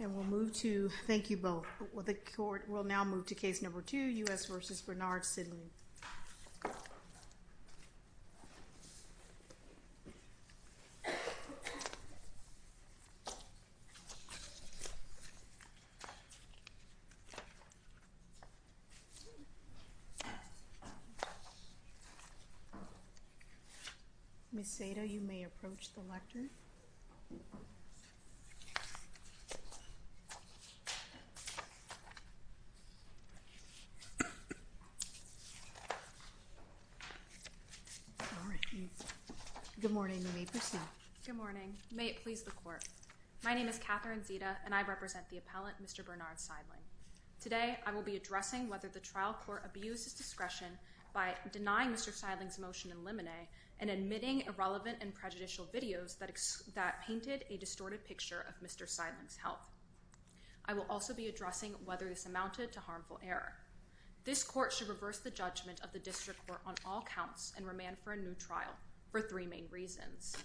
And we'll move to, thank you both, the court will now move to case number two, U.S. v. Bernard Seidling. Ms. Seda, you may approach the lectern. Good morning, may it please the court. My name is Catherine Seda and I represent the appellant, Mr. Bernard Seidling. Today I will be addressing whether the trial court abused its discretion by denying Mr. Seidling's motion in limine and admitting irrelevant and prejudicial videos that painted a distorted picture of Mr. Seidling's health. I will also be addressing whether this amounted to harmful error. This court should reverse the judgment of the district court on all counts and remand for a new trial for three main reasons.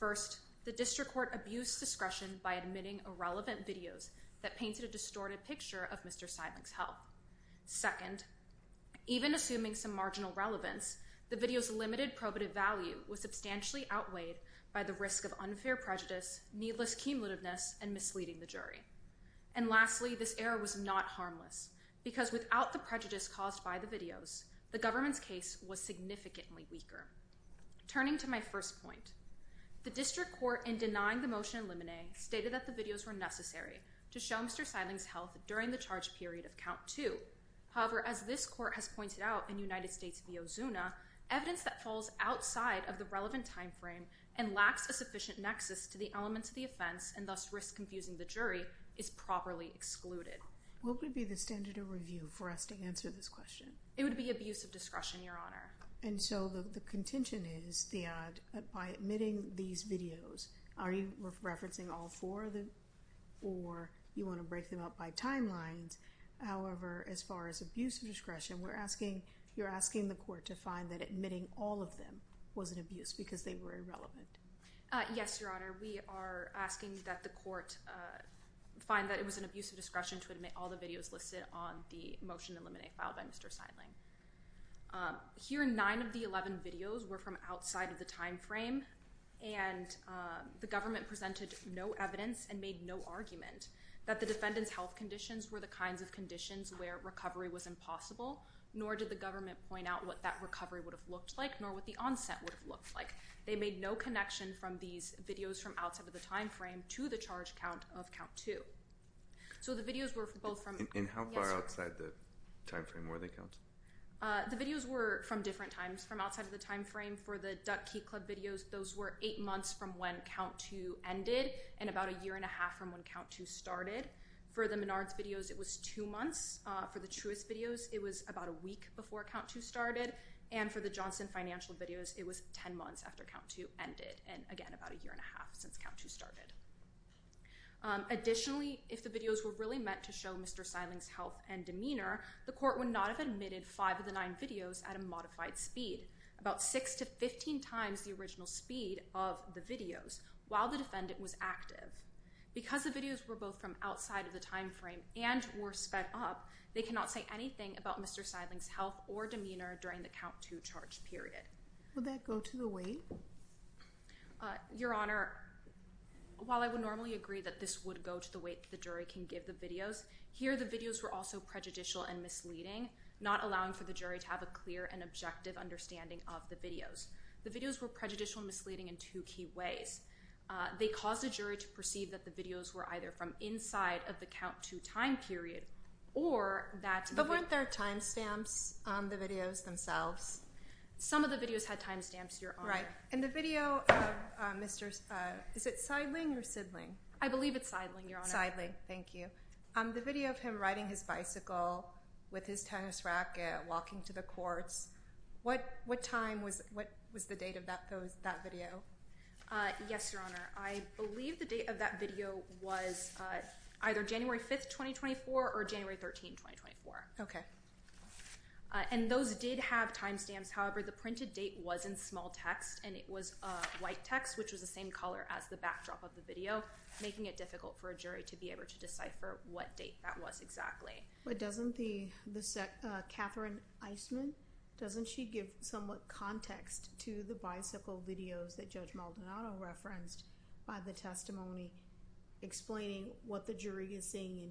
First, the district court abused discretion by admitting irrelevant videos that painted a distorted picture of Mr. Seidling's health. Second, even assuming some marginal relevance, the video's limited probative value was substantially outweighed by the risk of unfair prejudice, needless cumulativeness, and misleading the And lastly, this error was not harmless because without the prejudice caused by the videos, the government's case was significantly weaker. Turning to my first point, the district court in denying the motion in limine stated that the videos were necessary to show Mr. Seidling's health during the charge period of count two However, as this court has pointed out in United States v. Ozuna, evidence that falls outside of the relevant time frame and lacks a sufficient nexus to the elements of the offense and thus risks confusing the jury, is properly excluded. What would be the standard of review for us to answer this question? It would be abuse of discretion, your honor. And so the contention is, Theod, by admitting these videos, are you referencing all four of them? Or you want to break them up by timelines? However, as far as abuse of discretion, we're asking, you're asking the court to find that admitting all of them was an abuse because they were irrelevant. Yes, your honor. We are asking that the court find that it was an abuse of discretion to admit all the videos listed on the motion in limine filed by Mr. Seidling. Here nine of the 11 videos were from outside of the time frame and the government presented no evidence and made no argument that the defendant's health conditions were the kinds of conditions where recovery was impossible, nor did the government point out what that recovery would have looked like, nor what the onset would have looked like. They made no connection from these videos from outside of the time frame to the charge count of count two. So the videos were both from- And how far outside the time frame were they counted? The videos were from different times. From outside of the time frame for the Duck Key Club videos, those were eight months from when count two ended, and about a year and a half from when count two started. For the Menards videos, it was two months. For the Truist videos, it was about a week before count two started. And for the Johnson Financial videos, it was 10 months after count two ended, and again, about a year and a half since count two started. Additionally, if the videos were really meant to show Mr. Seidling's health and demeanor, the court would not have admitted five of the nine videos at a modified speed, about six to 15 times the original speed of the videos, while the defendant was active. Because the videos were both from outside of the time frame and were sped up, they cannot say anything about Mr. Seidling's health or demeanor during the count two charge period. Would that go to the weight? Your Honor, while I would normally agree that this would go to the weight the jury can give the videos, here the videos were also prejudicial and misleading, not allowing for the jury to have a clear and objective understanding of the videos. The videos were prejudicial and misleading in two key ways. They caused the jury to perceive that the videos were either from inside of the count two time period, or that they were- But weren't there timestamps on the videos themselves? Some of the videos had timestamps, Your Honor. Right. In the video of Mr. Seidling, is it Seidling or Sidling? I believe it's Seidling, Your Honor. Seidling. Thank you. The video of him riding his bicycle with his tennis racket, walking to the courts, what time was the date of that video? Yes, Your Honor. I believe the date of that video was either January 5th, 2024 or January 13th, 2024. Okay. And those did have timestamps, however, the printed date was in small text and it was a white text, which was the same color as the backdrop of the video, making it difficult for a jury to be able to decipher what date that was exactly. But doesn't the, Catherine Eisman, doesn't she give somewhat context to the bicycle videos that Judge Maldonado referenced by the testimony explaining what the jury is seeing in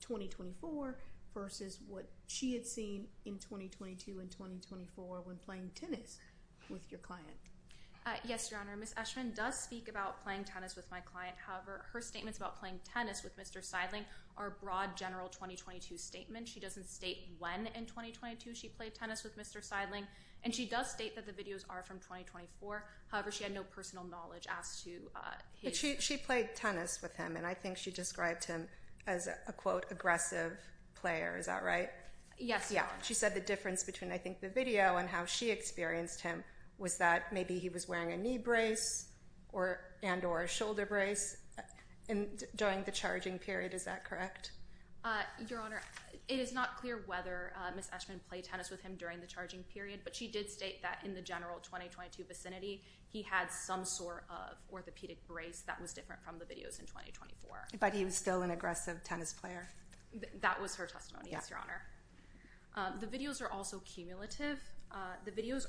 2024 versus what she had seen in 2022 and 2024 when playing tennis with your client? Yes, Your Honor. Ms. Eshman does speak about playing tennis with my client, however, her statements about playing tennis with Mr. Seidling are a broad general 2022 statement. She doesn't state when in 2022 she played tennis with Mr. Seidling, and she does state that the videos are from 2024, however, she had no personal knowledge as to his... She played tennis with him and I think she described him as a, quote, aggressive player. Is that right? Yes, Your Honor. Yeah. She said the difference between, I think, the video and how she experienced him was that maybe he was wearing a knee brace and or a shoulder brace during the charging period. Is that correct? Your Honor, it is not clear whether Ms. Eshman played tennis with him during the charging period, but she did state that in the general 2022 vicinity he had some sort of orthopedic brace that was different from the videos in 2024. But he was still an aggressive tennis player? That was her testimony, yes, Your Honor. The videos are also cumulative. The videos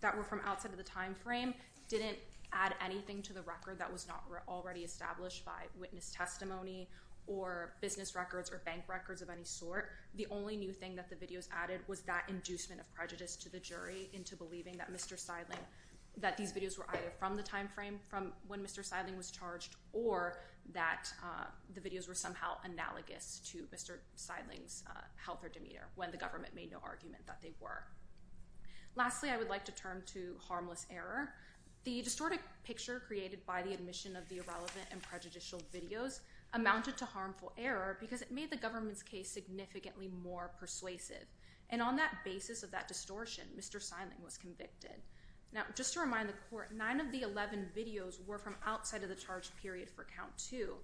that were from outside of the time frame didn't add anything to the record that was not already established by witness testimony or business records or bank records of any sort. The only new thing that the videos added was that inducement of prejudice to the jury into believing that Mr. Seidling... That these videos were either from the time frame from when Mr. Seidling was charged or that the videos were somehow analogous to Mr. Seidling's health or demeanor when the government made no argument that they were. Lastly, I would like to turn to harmless error. The distorted picture created by the admission of the irrelevant and prejudicial videos amounted to harmful error because it made the government's case significantly more persuasive. And on that basis of that distortion, Mr. Seidling was convicted. Now just to remind the court, nine of the 11 videos were from outside of the charge period for count two.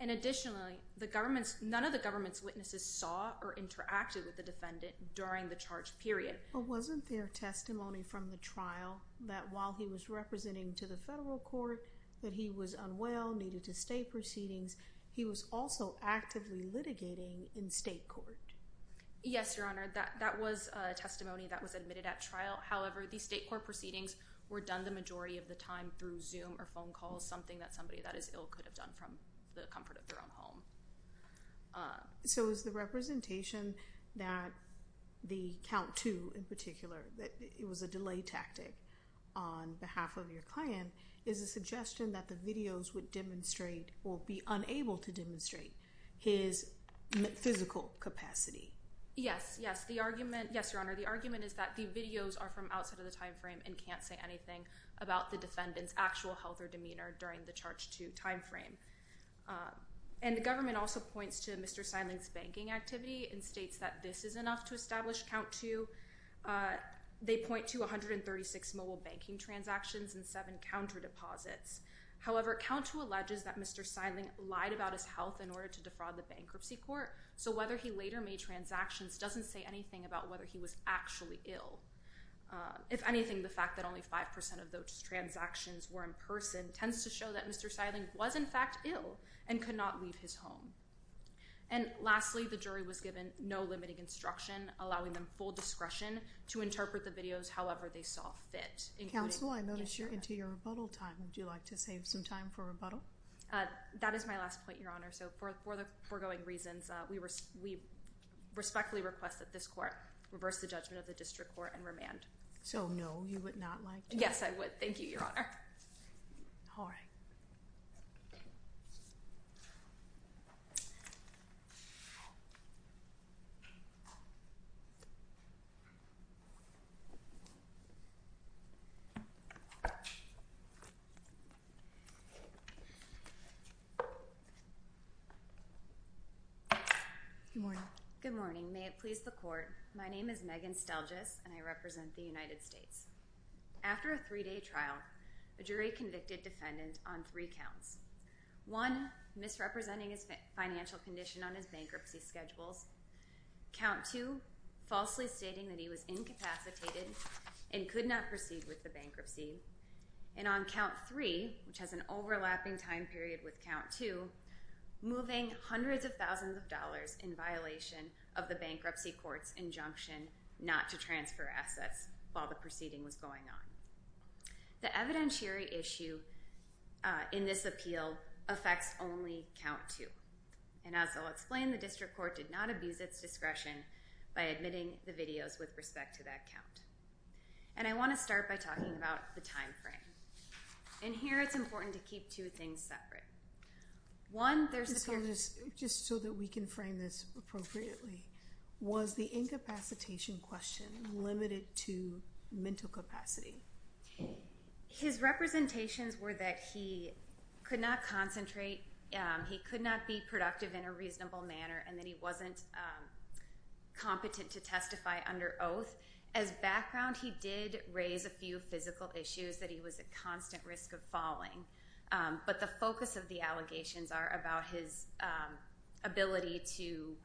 And additionally, the government's... None of the government's witnesses saw or interacted with the defendant during the charge period. But wasn't there testimony from the trial that while he was representing to the federal court that he was unwell, needed to stay proceedings, he was also actively litigating in state court? Yes, Your Honor. That was a testimony that was admitted at trial. However, the state court proceedings were done the majority of the time through Zoom or phone calls, something that somebody that is ill could have done from the comfort of their own home. So is the representation that the count two in particular, that it was a delay tactic on behalf of your client, is a suggestion that the videos would demonstrate or be unable to demonstrate his physical capacity? Yes. Yes. The argument... Yes, Your Honor. The argument is that the videos are from outside of the timeframe and can't say anything about the defendant's actual health or demeanor during the charge two timeframe. And the government also points to Mr. Seidling's banking activity and states that this is enough to establish count two. They point to 136 mobile banking transactions and seven counter deposits. However, count two alleges that Mr. Seidling lied about his health in order to defraud the bankruptcy court. So whether he later made transactions doesn't say anything about whether he was actually ill. If anything, the fact that only 5% of those transactions were in person tends to show that Mr. Seidling was in fact ill and could not leave his home. And lastly, the jury was given no limiting instruction, allowing them full discretion to interpret the videos however they saw fit. Counsel, I notice you're into your rebuttal time. Would you like to save some time for rebuttal? That is my last point, Your Honor. So for the foregoing reasons, we respectfully request that this court reverse the judgment of the district court and remand. So no, you would not like to? Yes, I would. Thank you, Your Honor. All right. Good morning. Good morning. May it please the court. Good morning, Your Honor. My name is Megan Stelgis, and I represent the United States. After a three-day trial, a jury convicted defendant on three counts. One, misrepresenting his financial condition on his bankruptcy schedules. Count two, falsely stating that he was incapacitated and could not proceed with the bankruptcy. And on count three, which has an overlapping time period with count two, moving hundreds of thousands of dollars in violation of the bankruptcy court's injunction not to transfer assets while the proceeding was going on. The evidentiary issue in this appeal affects only count two. And as I'll explain, the district court did not abuse its discretion by admitting the videos with respect to that count. And I want to start by talking about the time frame. In here, it's important to keep two things separate. One, there's... Ms. Stelgis, just so that we can frame this appropriately, was the incapacitation question limited to mental capacity? His representations were that he could not concentrate, he could not be productive in a reasonable manner, and that he wasn't competent to testify under oath. As background, he did raise a few physical issues, that he was at constant risk of falling. But the focus of the allegations are about his ability to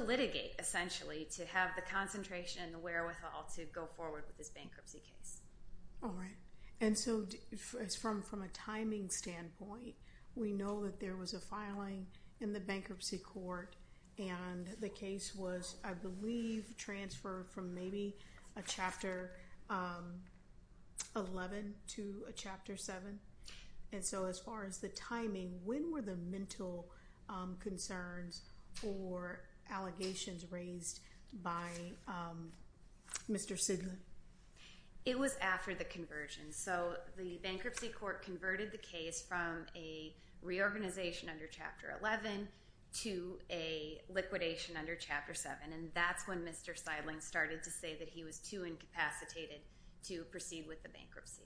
litigate, essentially, to have the concentration and the wherewithal to go forward with this bankruptcy case. All right. And so from a timing standpoint, we know that there was a filing in the bankruptcy court and the case was, I believe, transferred from maybe a Chapter 11 to a Chapter 7. And so as far as the timing, when were the mental concerns or allegations raised by Mr. Sidney? It was after the conversion. So the bankruptcy court converted the case from a reorganization under Chapter 11 to a liquidation under Chapter 7. And that's when Mr. Seidling started to say that he was too incapacitated to proceed with the bankruptcy.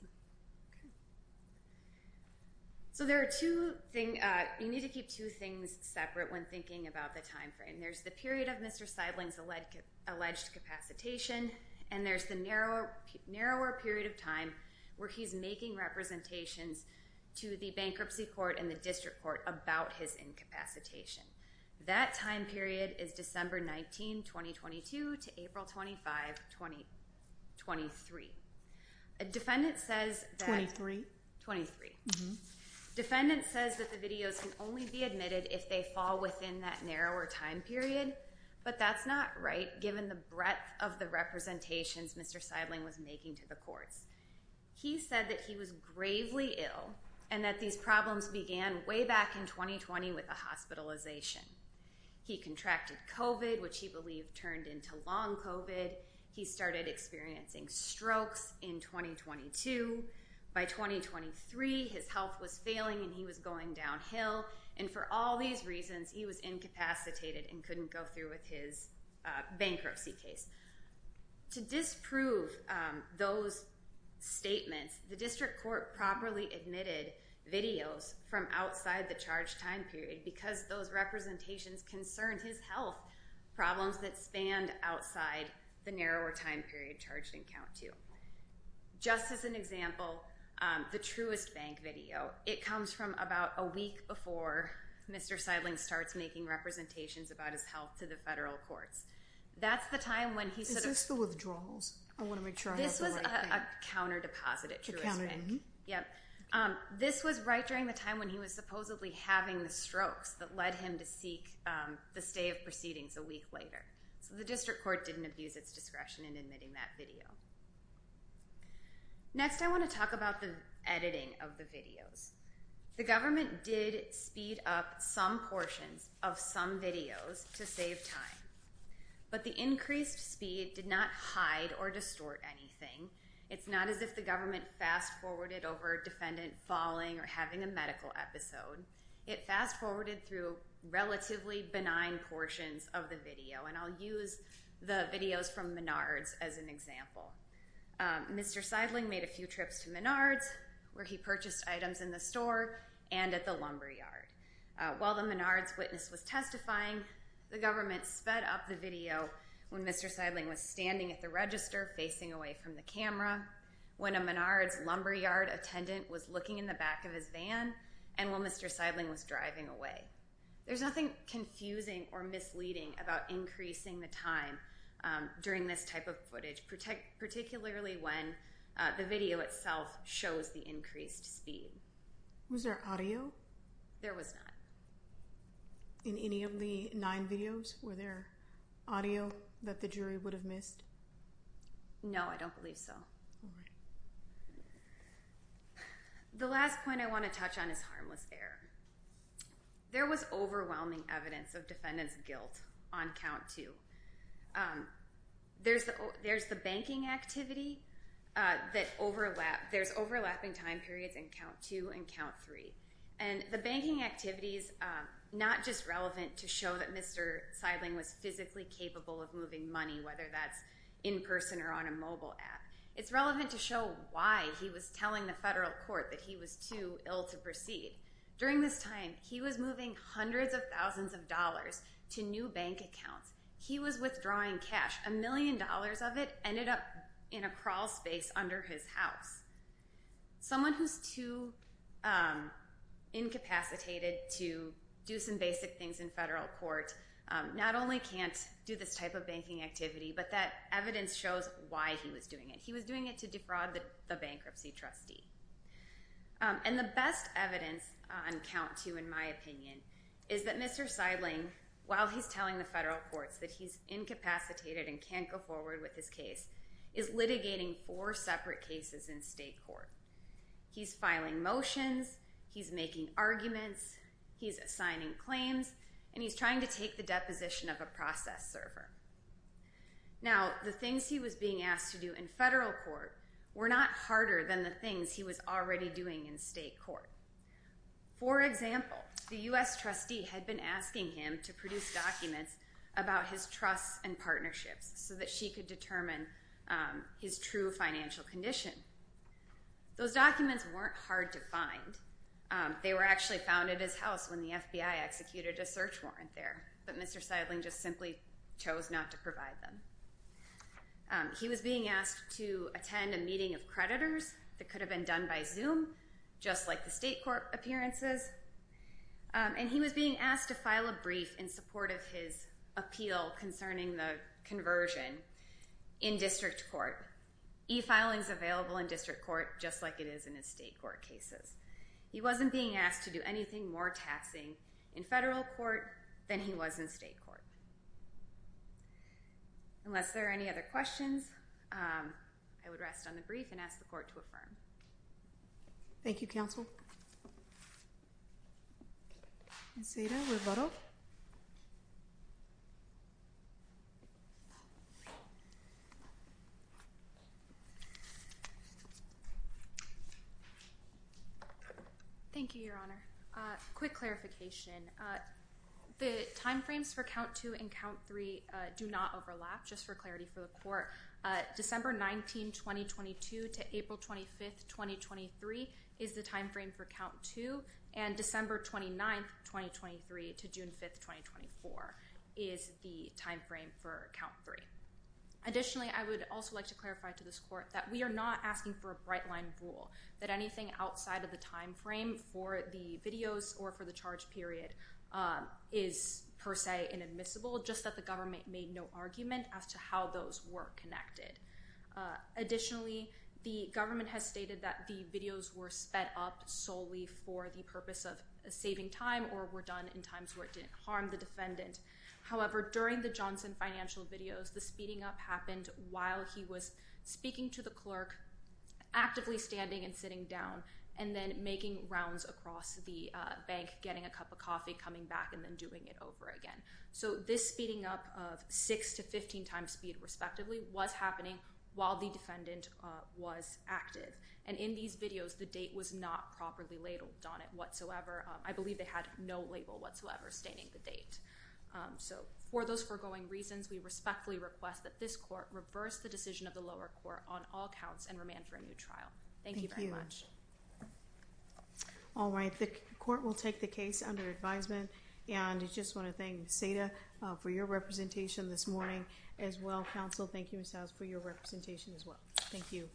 So there are two things... You need to keep two things separate when thinking about the time frame. There's the period of Mr. Seidling's alleged capacitation, and there's the narrower period of time where he's making representations to the bankruptcy court and the district court about his incapacitation. That time period is December 19, 2022 to April 25, 2023. A defendant says that... Twenty-three? Twenty-three. Defendant says that the videos can only be admitted if they fall within that narrower time period, but that's not right given the breadth of the representations Mr. Seidling was making to the courts. He said that he was gravely ill and that these problems began way back in 2020 with a hospitalization. He contracted COVID, which he believed turned into long COVID. He started experiencing strokes in 2022. By 2023, his health was failing and he was going downhill. And for all these reasons, he was incapacitated and couldn't go through with his bankruptcy case. To disprove those statements, the district court properly admitted videos from outside the charged time period because those representations concerned his health problems that spanned outside the narrower time period charged in count two. Just as an example, the Truist Bank video. It comes from about a week before Mr. Seidling starts making representations about his health to the federal courts. That's the time when he sort of... Is this the withdrawals? I want to make sure I have the right thing. This was a counter deposit at Truist Bank. A counter, mm-hmm. Yep. This was right during the time when he was supposedly having the strokes that led him to seek the stay of proceedings a week later. So the district court didn't abuse its discretion in admitting that video. Next, I want to talk about the editing of the videos. The government did speed up some portions of some videos to save time, but the increased speed did not hide or distort anything. It's not as if the government fast-forwarded over a defendant falling or having a medical episode. It fast-forwarded through relatively benign portions of the video, and I'll use the videos from Menards as an example. Mr. Seidling made a few trips to Menards where he purchased items in the store and at the lumber yard. While the Menards witness was testifying, the government sped up the video when Mr. Seidling was standing at the register facing away from the camera, when a Menards lumber yard attendant was looking in the back of his van, and when Mr. Seidling was driving away. There's nothing confusing or misleading about increasing the time during this type of footage particularly when the video itself shows the increased speed. Was there audio? There was not. In any of the nine videos, were there audio that the jury would have missed? No, I don't believe so. The last point I want to touch on is harmless error. There was overwhelming evidence of defendant's guilt on count two. There's the banking activity that overlapped. There's overlapping time periods on count two and count three. The banking activity is not just relevant to show that Mr. Seidling was physically capable of moving money, whether that's in person or on a mobile app. It's relevant to show why he was telling the federal court that he was too ill to proceed. During this time, he was moving hundreds of thousands of dollars to new bank accounts. He was withdrawing cash. A million dollars of it ended up in a crawl space under his house. Someone who's too incapacitated to do some basic things in federal court not only can't do this type of banking activity, but that evidence shows why he was doing it. He was doing it to defraud the bankruptcy trustee. And the best evidence on count two, in my opinion, is that Mr. Seidling, while he's telling the federal courts that he's incapacitated and can't go forward with his case, is litigating four separate cases in state court. He's filing motions. He's making arguments. He's assigning claims. And he's trying to take the deposition of a process server. Now, the things he was being asked to do in federal court were not harder than the things he was already doing in state court. For example, the U.S. trustee had been asking him to produce documents about his trusts and partnerships so that she could determine his true financial condition. Those documents weren't hard to find. They were actually found at his house when the FBI executed a search warrant there. But Mr. Seidling just simply chose not to provide them. He was being asked to attend a meeting of creditors that could have been done by Zoom, just like the state court appearances. And he was being asked to file a brief in support of his appeal concerning the conversion in district court. E-filing is available in district court just like it is in the state court cases. He wasn't being asked to do anything more tasking in federal court than he was in state court. Unless there are any other questions, I would rest on the brief and ask the court to affirm. Thank you, counsel. Ms. Seda, rebuttal. Thank you, Your Honor. Quick clarification. The time frames for count two and count three do not overlap, just for clarity for the court. December 19, 2022 to April 25, 2023 is the time frame for count two. And December 29, 2023 to June 5, 2024 is the time frame for count three. Additionally, I would also like to clarify to this court that we are not asking for a bright line rule, that anything outside of the time frame for the videos or for the charge period is per se inadmissible, just that the government made no argument as to how those work. They are not connected. Additionally, the government has stated that the videos were sped up solely for the purpose of saving time or were done in times where it didn't harm the defendant. However, during the Johnson financial videos, the speeding up happened while he was speaking to the clerk, actively standing and sitting down, and then making rounds across the bank, getting a cup of coffee, coming back, and then doing it over again. So this speeding up of six to 15 times speed, respectively, was happening while the defendant was active. And in these videos, the date was not properly labeled on it whatsoever. I believe they had no label whatsoever stating the date. So for those foregoing reasons, we respectfully request that this court reverse the decision of the lower court on all counts and remand for a new trial. Thank you very much. All right. The court will take the case under advisement. And I just want to thank Ms. Seda for your representation this morning as well. Counsel, thank you, Ms. Howes, for your representation as well. Thank you.